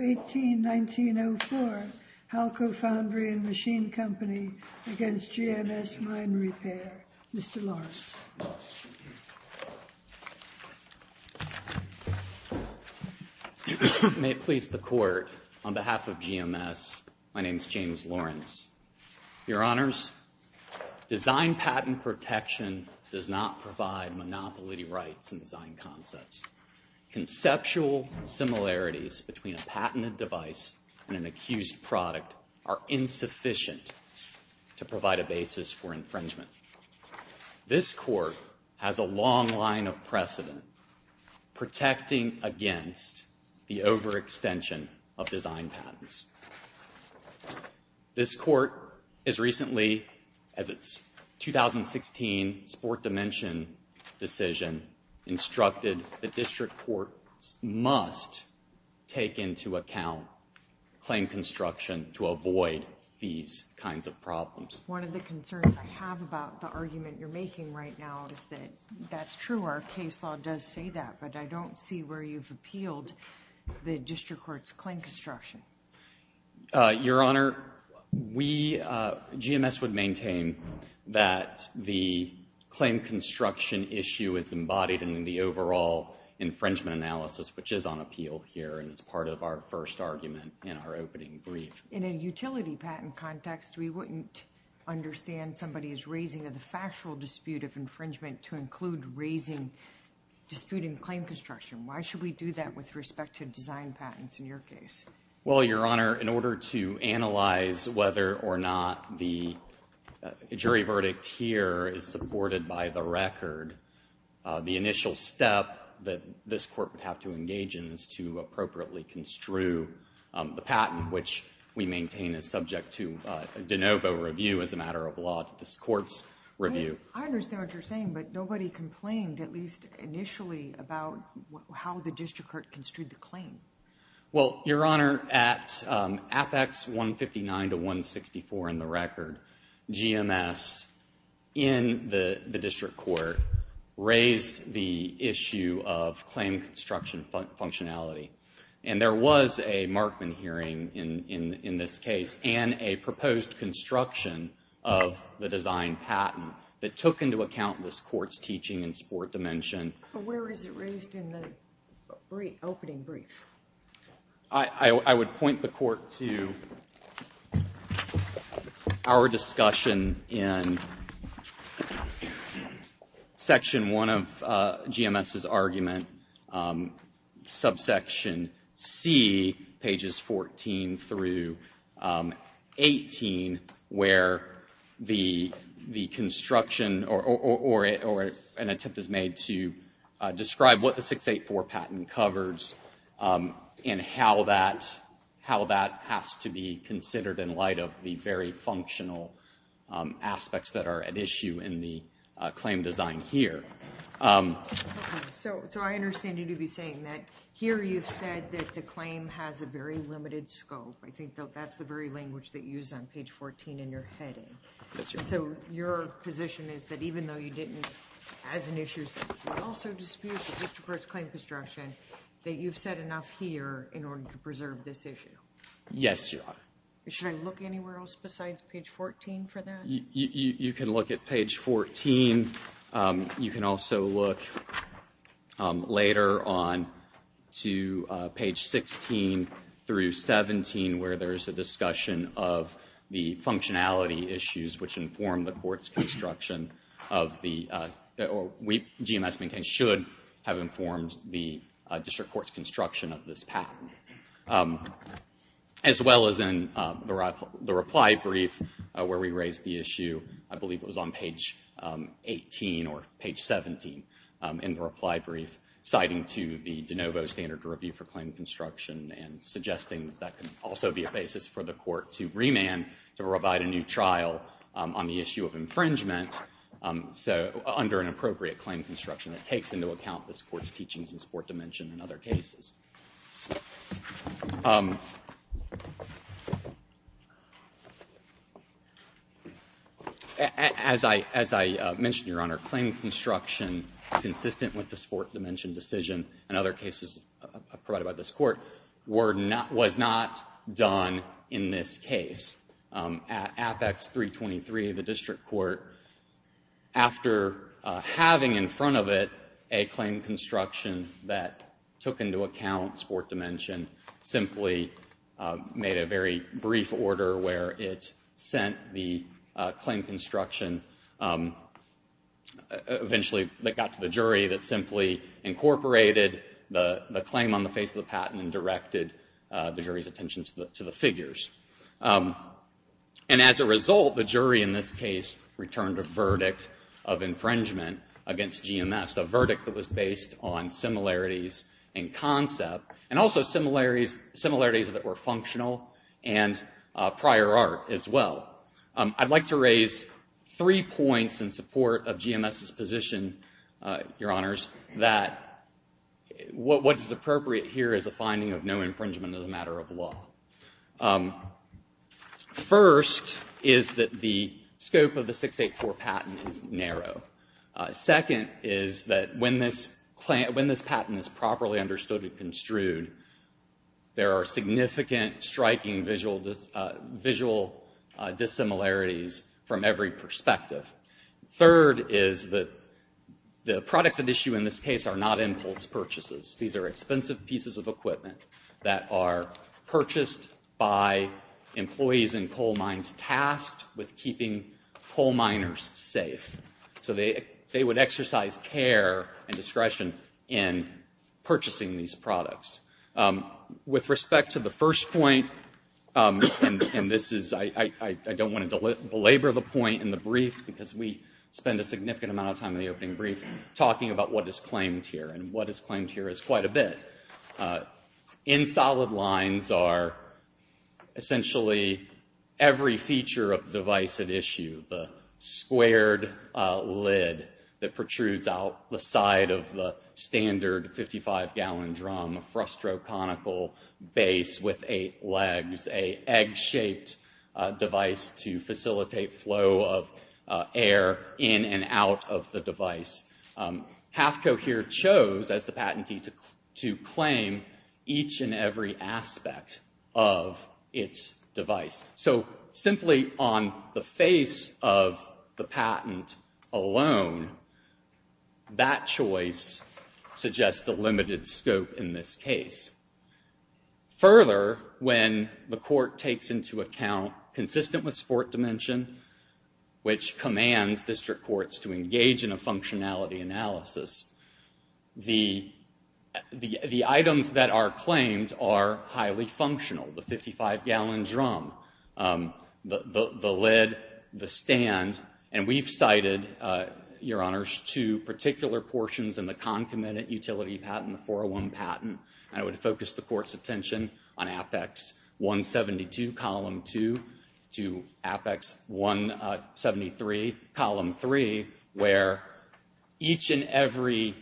18, 1904, Halco Foundry and Machine Co. v. GMS Mine Repair Mr. Lawrence. May it please the Court, on behalf of GMS, my name is James Lawrence. Your Honors, design patent protection does not provide monopoly rights in design concepts. Conceptual similarities between a patented device and an accused product are insufficient to provide a basis for infringement. This Court has a long line of precedent protecting against the overextension of design patents. This Court has recently, as its 2016 Sport Dimension decision instructed, the District Court must take into account claim construction to avoid these kinds of problems. One of the concerns I have about the argument you're making right now is that that's true. Our case law does say that, but I don't see where you've appealed the District Court's claim construction. Your Honor, we, GMS would maintain that the claim construction issue is embodied in the overall infringement analysis, which is on appeal here and is part of our first argument in our opening brief. In a utility patent context, we wouldn't understand somebody's raising of the factual dispute of infringement to include raising dispute in claim construction. Why should we do that with respect to design patents in your case? Well, Your Honor, in order to analyze whether or not the jury verdict here is supported by the record, the initial step that this Court would have to engage in is to appropriately construe the patent, which we maintain is subject to a de novo review as a matter of law to this Court's review. I understand what you're saying, but nobody complained, at least initially, about how the District Court construed the claim. Well, Your Honor, at Apex 159 to 164 in the record, GMS in the District Court raised the There was a Markman hearing in this case and a proposed construction of the design patent that took into account this Court's teaching in sport dimension. But where is it raised in the opening brief? I would point the Court to our discussion in Section 1 of GMS's argument, subsection C, pages 14 through 18, where the construction or an attempt is made to describe what the 684 patent covers and how that has to be considered in light of the very functional aspects that are at issue in the claim design here. So I understand you to be saying that here you've said that the claim has a very limited scope. I think that's the very language that you use on page 14 in your heading. So your position is that even though you didn't, as an issue, also dispute the District Court's claim construction, that you've said enough here in order to preserve this issue? Yes, Your Honor. Should I look anywhere else besides page 14 for that? You can look at page 14. You can also look later on to page 16 through 17, where there's a discussion of the functionality issues which inform the Court's construction of the, or GMS maintains should have informed the District Court's construction of this patent. As well as in the reply brief where we raised the issue, I believe it was on page 18 or page 17 in the reply brief, citing to the de novo standard to review for claim construction and suggesting that that can also be a basis for the Court to remand to provide a new trial on the issue of infringement, so under an appropriate claim construction that takes into account this Court's teachings in sport dimension and other cases. As I mentioned, Your Honor, claim construction consistent with the sport dimension decision and other cases provided by this Court were not, was not done in this case. At Apex 323, the District Court, after having in front of it a claim construction that took into account sport dimension, simply made a very brief order where it sent the claim construction eventually that got to the jury that simply incorporated the claim on the face of the patent and directed the jury's attention to the figures. And as a result, the jury in this case returned a verdict of infringement against GMS, a verdict that was based on similarities in concept and also similarities that were functional and prior art as well. I'd like to raise three points in support of GMS's position, Your Honors, that what is appropriate here is a finding of no infringement as a matter of law. First is that the scope of the 684 patent is narrow. Second is that when this patent is properly understood and construed, there are significant striking visual dissimilarities from every perspective. Third is that the products at issue in this case are not impulse purchases. These are expensive pieces of equipment that are purchased by employees in coal mines tasked with keeping coal miners safe. So they would exercise care and discretion in purchasing these products. With respect to the first point, and I don't want to belabor the point in the brief because we spend a significant amount of time in the opening brief talking about what is claimed here, and what is claimed here is quite a bit. In solid lines are essentially every feature of the device at issue, the squared lid that protrudes out the side of the standard 55-gallon drum, a frustroconical base with eight legs, a egg-shaped device to facilitate flow of air in and out of the device. HAFCO here chose, as the patentee, to claim each and every aspect of its device. So simply on the face of the patent alone, that choice suggests a limited scope in this case. Further, when the court takes into account consistent with sport dimension, which commands district courts to engage in a functionality analysis, the items that are claimed are highly functional. The 55-gallon drum, the lid, the stand, and we've cited, Your Honors, two particular portions in the concomitant utility patent, the 401 patent, and I would focus the court's attention on Apex 172, Column 2, to Apex 173, Column 3, where each and every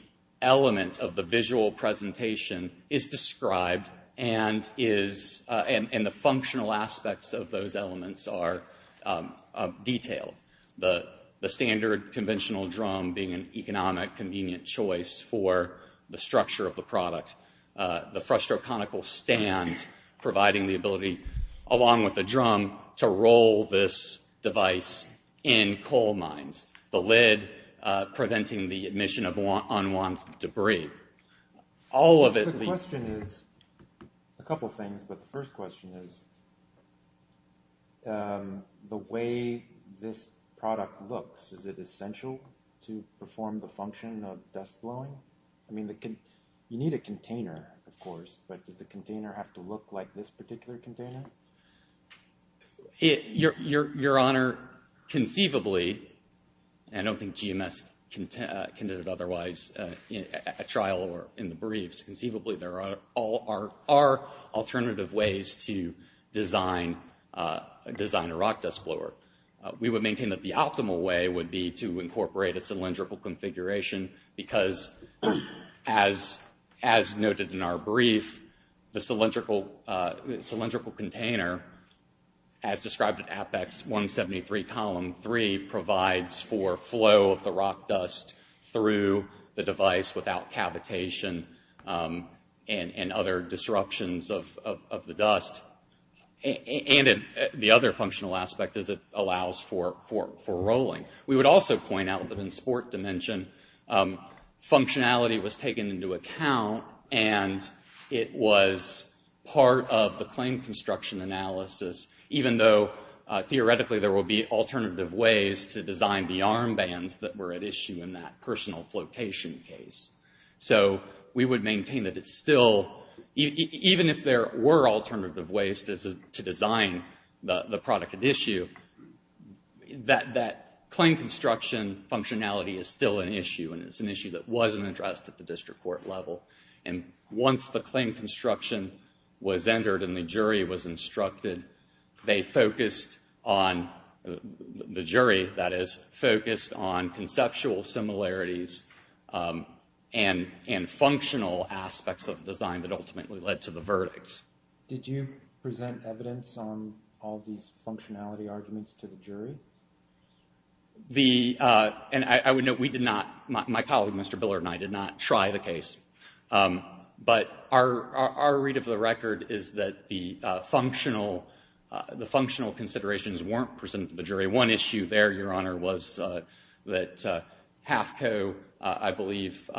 element of the visual presentation is described and the functional aspects of those elements are detailed. The standard conventional drum being an economic, convenient choice for the structure of the stand, providing the ability, along with the drum, to roll this device in coal mines. The lid, preventing the admission of unwanted debris. All of it... The question is, a couple of things, but the first question is, the way this product looks, is it essential to perform the function of dust blowing? I mean, you need a container, of course, but does the container have to look like this particular container? Your Honor, conceivably, and I don't think GMS can do it otherwise at trial or in the briefs, conceivably there are alternative ways to design a rock dust blower. We would maintain that the optimal way would be to incorporate a cylindrical configuration because, as noted in our brief, the cylindrical container, as described in Apex 173, Column 3, provides for flow of the rock dust through the device without cavitation and other disruptions of the dust. And the other functional aspect is it allows for rolling. We would also point out that in sport dimension, functionality was taken into account and it was part of the claim construction analysis, even though, theoretically, there will be alternative ways to design the armbands that were at issue in that personal flotation case. So, we would maintain that it's still... The claim construction functionality is still an issue and it's an issue that wasn't addressed at the district court level. Once the claim construction was entered and the jury was instructed, they focused on, the jury, that is, focused on conceptual similarities and functional aspects of the design that ultimately led to the verdict. Did you present evidence on all these functionality arguments to the jury? The... And I would note we did not, my colleague, Mr. Biller and I, did not try the case. But our read of the record is that the functional considerations weren't presented to the jury. One issue there, Your Honor, was that HAFCO, I believe,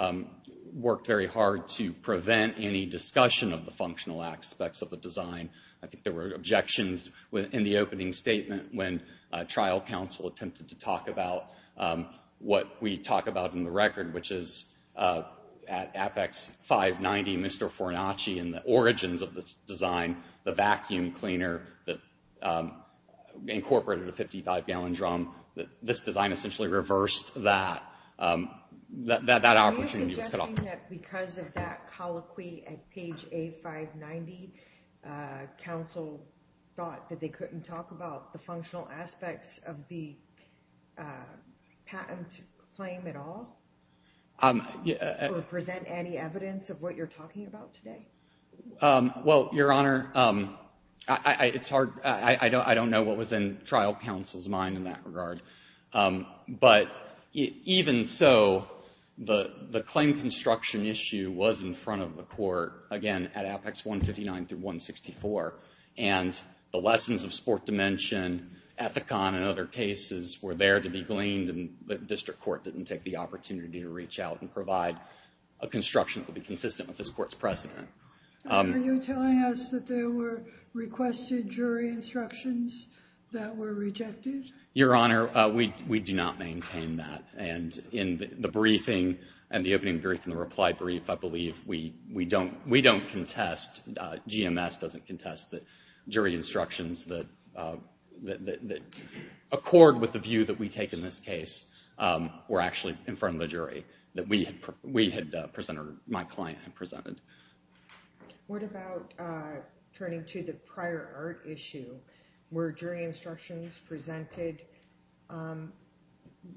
worked very hard to prevent any aspects of the design. I think there were objections in the opening statement when trial counsel attempted to talk about what we talk about in the record, which is at Apex 590, Mr. Fornacci and the origins of this design, the vacuum cleaner that incorporated a 55-gallon drum. This design essentially reversed that. That opportunity was cut off. So you're saying that because of that colloquy at page A590, counsel thought that they couldn't talk about the functional aspects of the patent claim at all? Or present any evidence of what you're talking about today? Well, Your Honor, it's hard, I don't know what was in trial counsel's mind in that regard. But even so, the claim construction issue was in front of the court, again, at Apex 159-164. And the lessons of sport dimension, Ethicon and other cases, were there to be gleaned. And the district court didn't take the opportunity to reach out and provide a construction that would be consistent with this court's precedent. Are you telling us that there were requested jury instructions that were rejected? Your Honor, we do not maintain that. And in the briefing, and the opening brief and the reply brief, I believe, we don't contest, GMS doesn't contest, that jury instructions that accord with the view that we take in this case were actually in front of the jury. What about turning to the prior art issue? Were jury instructions presented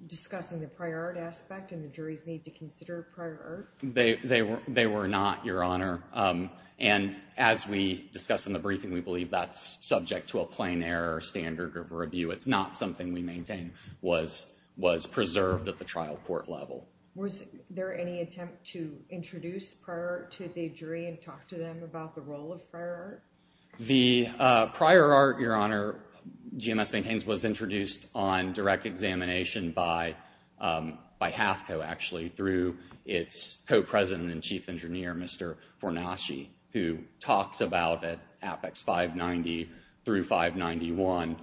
discussing the prior art aspect and the jury's need to consider prior art? They were not, Your Honor. And as we discussed in the briefing, we believe that's subject to a plain error, standard, or review. It's not something we maintain was preserved at the trial court level. Was there any attempt to introduce prior art to the jury and talk to them about the role of prior art? The prior art, Your Honor, GMS maintains was introduced on direct examination by HAFCO, actually, through its co-president and chief engineer, Mr. Fornaschi, who talks about at Apex 590 through 591,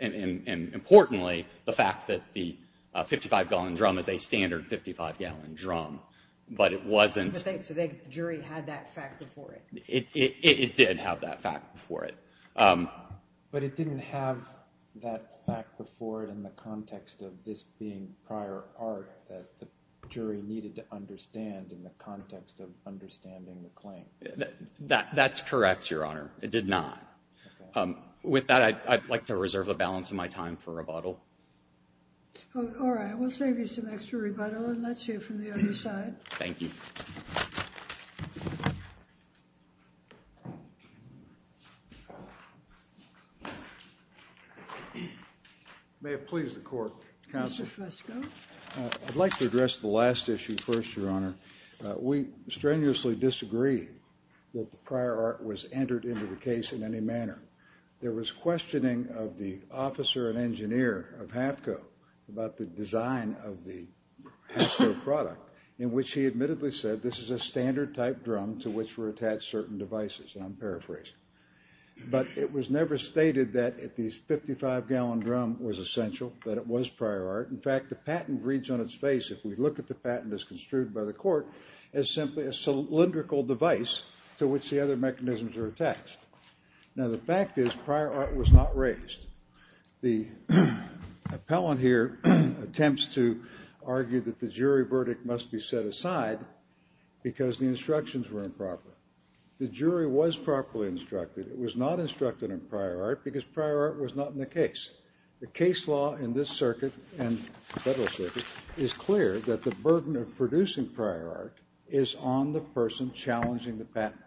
and importantly, the fact that the 55-gallon drum is a standard 55-gallon drum. But it wasn't... So the jury had that fact before it? It did have that fact before it. But it didn't have that fact before it in the context of this being prior art that the jury needed to understand in the context of understanding the claim? That's correct, Your Honor. It did not. With that, I'd like to reserve a balance of my time for rebuttal. All right. We'll save you some extra rebuttal, and let's hear from the other side. Thank you. May it please the Court. Counsel. Mr. Fresco. I'd like to address the last issue first, Your Honor. We strenuously disagree that the prior art was entered into the case in any manner. There was questioning of the officer and engineer of HAFCO about the design of the HAFCO product in which he admittedly said this is a standard-type drum to which were attached certain devices. I'm paraphrasing. But it was never stated that this 55-gallon drum was essential, that it was prior art. In fact, the patent reads on its face. If we look at the patent as construed by the Court, it's simply a cylindrical device to which the other mechanisms are attached. Now, the fact is prior art was not raised. The appellant here attempts to argue that the jury verdict must be set aside because the instructions were improper. The jury was properly instructed. It was not instructed in prior art because prior art was not in the case. The case law in this circuit and the federal circuit is clear that the burden of producing prior art is on the person challenging the patent.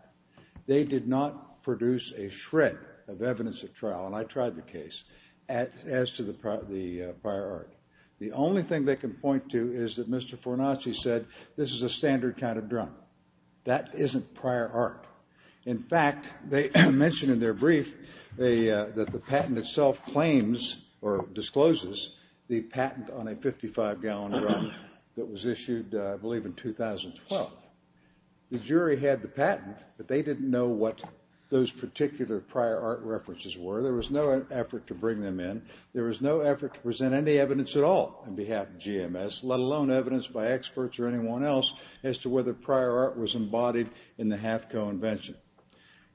They did not produce a shred of evidence at trial, and I tried the case, as to the prior art. The only thing they can point to is that Mr. Fornaschi said this is a standard kind of drum. That isn't prior art. In fact, they mentioned in their brief that the patent itself claims or discloses the patent on a 55-gallon drum that was issued, I believe, in 2012. The jury had the patent, but they didn't know what those particular prior art references were. There was no effort to bring them in. There was no effort to present any evidence at all on behalf of GMS, let alone evidence by experts or anyone else, as to whether prior art was embodied in the HAFCO invention.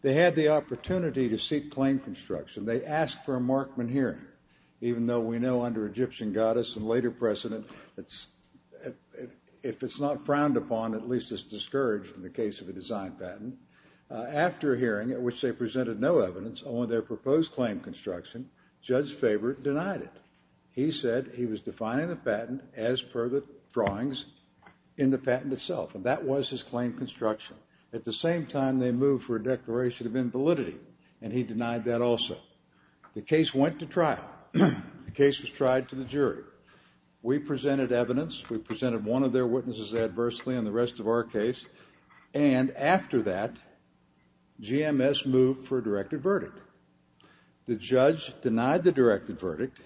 They had the opportunity to seek claim construction. They asked for a Markman hearing, even though we know under Egyptian goddess and later precedent, if it's not frowned upon, at least it's discouraged in the case of a design patent. After a hearing, at which they presented no evidence on their proposed claim construction, Judge Fabert denied it. He said he was defining the patent as per the drawings in the patent itself, and that was his claim construction. At the same time, they moved for a declaration of invalidity, and he denied that also. The case went to trial. The case was tried to the jury. We presented evidence. We presented one of their witnesses adversely on the rest of our case. And after that, GMS moved for a directed verdict. The judge denied the directed verdict,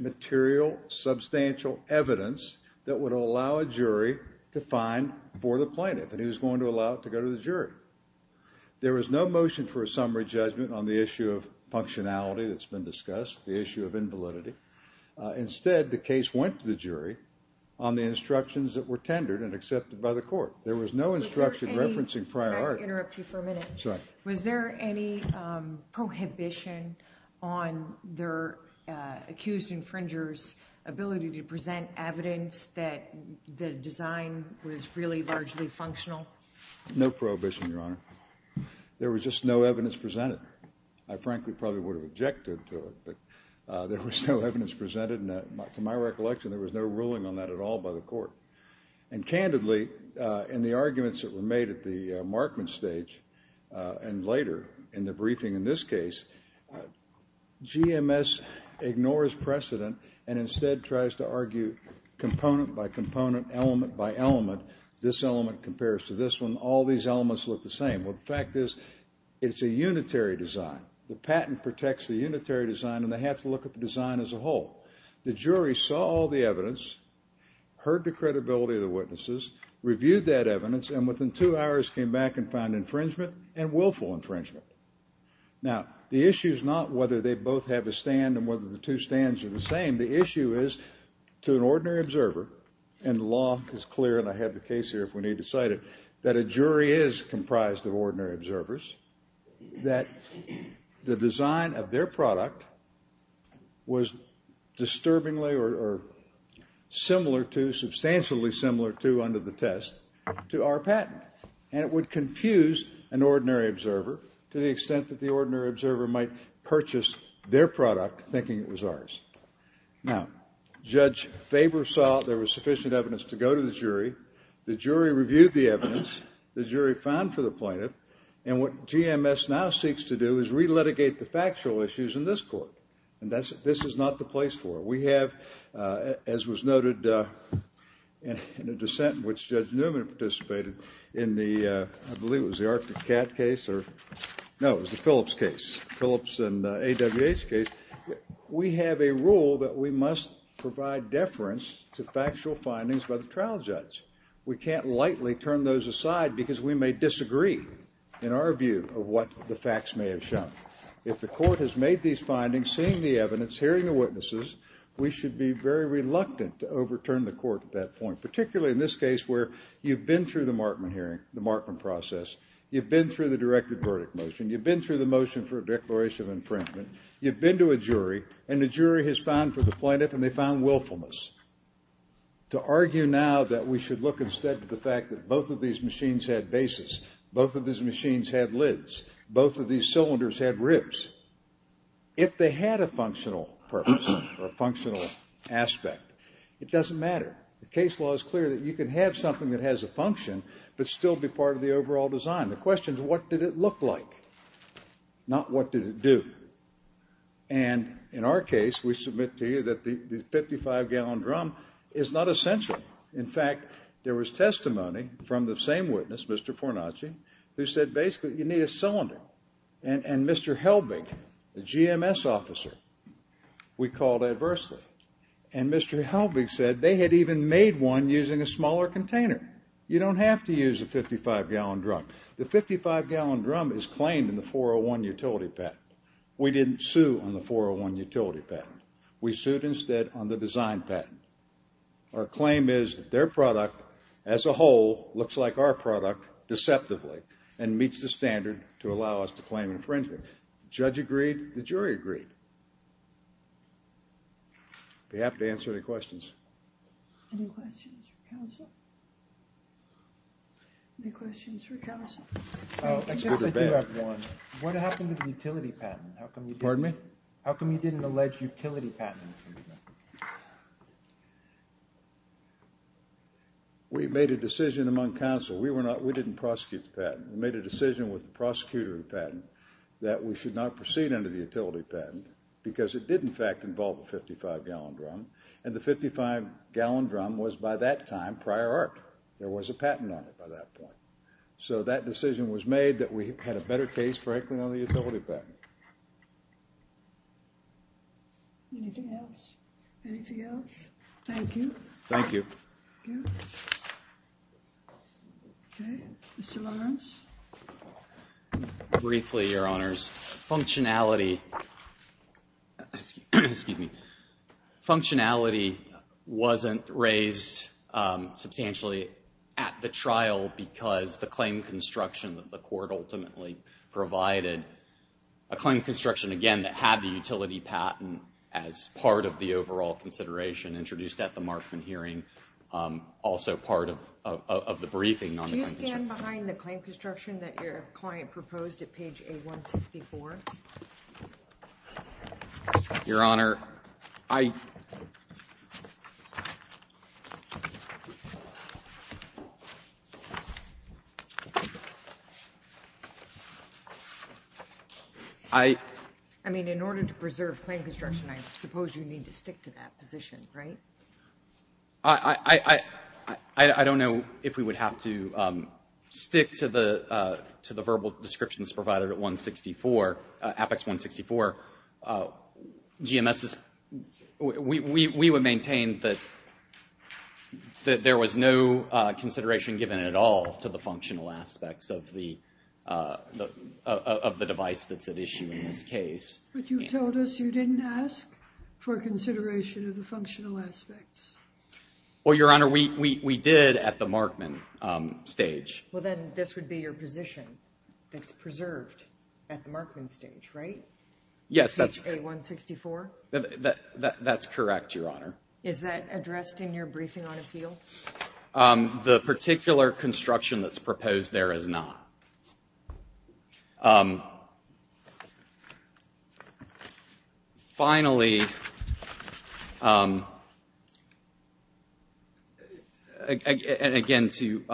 material, substantial evidence that would allow a jury to find for the plaintiff, and he was going to allow it to go to the jury. There was no motion for a summary judgment on the issue of functionality that's been discussed, the issue of invalidity. Instead, the case went to the jury on the instructions that were tendered and accepted by the court. There was no instruction referencing priority. Was there any prohibition on their accused infringer's ability to present evidence that the design was really largely functional? No prohibition, Your Honor. There was just no evidence presented. I frankly probably would have objected to it, but there was no evidence presented, and to my recollection, there was no ruling on that at all by the court. And candidly, in the arguments that were made at the markman stage and later in the briefing in this case, GMS ignores precedent and instead tries to argue component by component, element by element. This element compares to this one. All these elements look the same. Well, the fact is, it's a unitary design. The patent protects the unitary design, and they have to look at the design as a whole. The jury saw all the evidence, heard the credibility of the witnesses, reviewed that evidence, and within two hours came back and found infringement and willful infringement. Now, the issue is not whether they both have a stand and whether the two stands are the same. The issue is to an ordinary observer, and the law is clear, and I have the case here if we need to cite it, that a jury is comprised of ordinary observers, that the design of their product was disturbingly or similar to, substantially similar to, under the test, to our patent. And it would confuse an ordinary observer to the extent that the ordinary observer might purchase their product, thinking it was ours. Now, Judge Faber saw there was sufficient evidence to go to the jury, the jury reviewed the evidence, the jury found for the plaintiff, and what GMS now seeks to do is re-litigate the factual issues in this court. And this is not the place for it. We have, as was noted in a dissent in which Judge Newman participated in the, I believe it was the Arctic Cat case, no, it was the Phillips case, Phillips and AWH case, we have a rule that we must provide deference to factual findings by the trial judge. We can't lightly turn those aside because we may disagree in our view of what the facts may have shown. If the court has made these findings, seen the evidence, hearing the witnesses, we should be very reluctant to overturn the court at that point, particularly in this case where you've been through the Markman hearing, the Markman process, you've been through the directed verdict motion, you've been through the motion for a declaration of infringement, you've been to a jury, and the jury has found for the plaintiff and they found willfulness. To argue now that we should look instead to the fact that both of these machines had bases, both of these machines had lids, both of these cylinders had ribs. If they had a functional purpose, or a functional aspect, it doesn't matter. The case law is clear that you can have something that has a function but still be part of the overall design. The question is what did it look like, not what did it do. And in our case, we submit to you that the 55-gallon drum is not essential. In fact, there was testimony from the same witness, Mr. Fornacci, who said basically you need a cylinder. And Mr. Helbig, the GMS officer, we called adversely. And Mr. Helbig said they had even made one using a smaller container. You don't have to use a 55-gallon drum. The 55-gallon drum is claimed in the 401 utility patent. We didn't sue on the 401 utility patent. We sued instead on the design patent. Our claim is that their product as a whole looks like our product deceptively and meets the standard to allow us to claim infringement. The judge agreed, the jury agreed. If you have to answer any questions. Any questions for counsel? Any questions for counsel? I guess I do have one. What happened to the utility patent? Pardon me? How come you didn't allege utility patent infringement? We made a decision among counsel. We didn't prosecute the patent. We made a decision with the prosecutor of the patent that we should not proceed under the utility patent because it did in fact involve a 55-gallon drum. And the 55-gallon drum was by that time prior art. There was a patent on it by that point. So that decision was made that we had a better case for heckling on the utility patent. Anything else? Anything else? Thank you. Okay, Mr. Lawrence. Briefly, Your Honors. Functionality Excuse me. Functionality wasn't raised substantially at the trial because the claim construction that the court ultimately provided a claim construction, again, that had the utility patent as part of the overall consideration introduced at the Markman hearing also part of the briefing. Do you stand behind the claim construction that your client proposed at page 164? Your Honor, I I mean, in order to preserve claim construction, I suppose you need to stick to that position, right? I don't know if we would have to stick to the to the verbal descriptions provided at 164 Apex 164 GMS we would maintain that there was no consideration given at all to the functional aspects of the of the device that's at issue in this case. But you told us you didn't ask for consideration of the functional aspects. Well, Your Honor, we did at the Markman stage. Well, then, this would be your position that's preserved at the Markman stage, right? Page A164? That's correct, Your Honor. Is that addressed in your briefing on appeal? The particular construction that's proposed there is not. Finally, and again to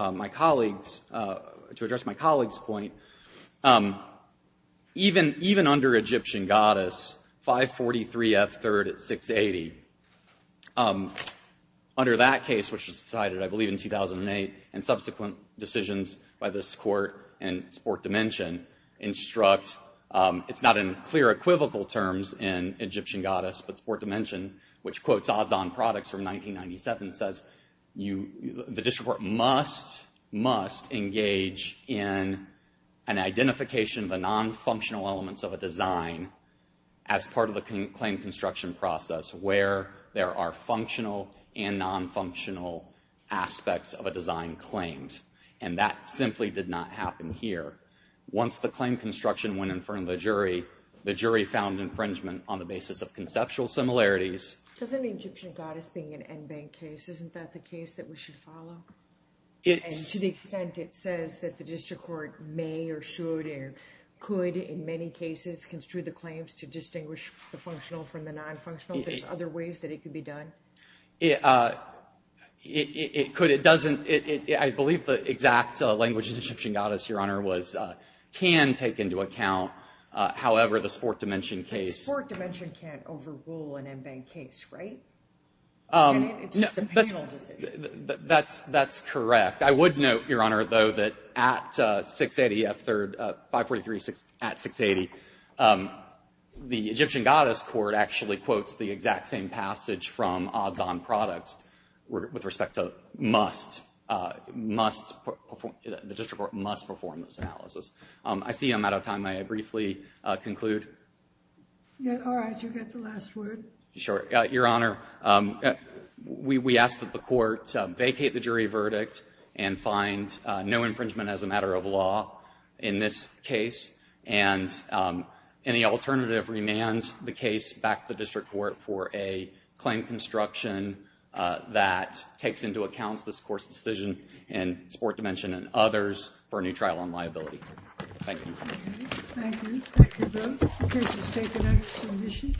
address my colleague's point, even under Egyptian Goddess, 543 F3rd at 680, under that case, which was decided, I believe, in 2008, and subsequent decisions by this Court and sport dimension instruct it's not in clear equivocal terms in Egyptian Goddess, but sport dimension which quotes odds-on products from 1997 says the district court must engage in an identification of the non-functional elements of a design as part of the claim construction process where there are functional and non-functional aspects of a design claimed, and that simply did not happen here. Once the claim construction went in front of the jury, the jury found infringement on the basis of conceptual similarities. Doesn't Egyptian Goddess being an en banc case isn't that the case that we should follow? And to the extent it says that the district court may or should or could in many cases construe the claims to distinguish the functional from the non-functional, there's other ways that it could be done? It could. It doesn't. I believe the exact language in Egyptian Goddess, Your Honor, was, can take into account, however, the sport dimension case. The sport dimension can't overrule an en banc case, right? It's just a penal decision. That's correct. I would note, Your Honor, though, that at 680, 543 at 680, the Egyptian Goddess court actually quotes the exact same passage from odds-on products with respect to must, must perform, the district court must perform this analysis. I see I'm out of time. May I briefly conclude? All right. You get the last word. Sure. Your Honor, we ask that the court vacate the jury verdict and find no infringement as a matter of law in this case and any alternative, remand the case back to the district court for a claim construction that takes into account this court's decision in the sport dimension and others for a new trial on liability. Thank you. Thank you. Thank you both. The case is taken under submission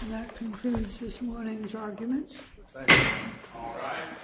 and that concludes this morning's arguments. Thank you. All right.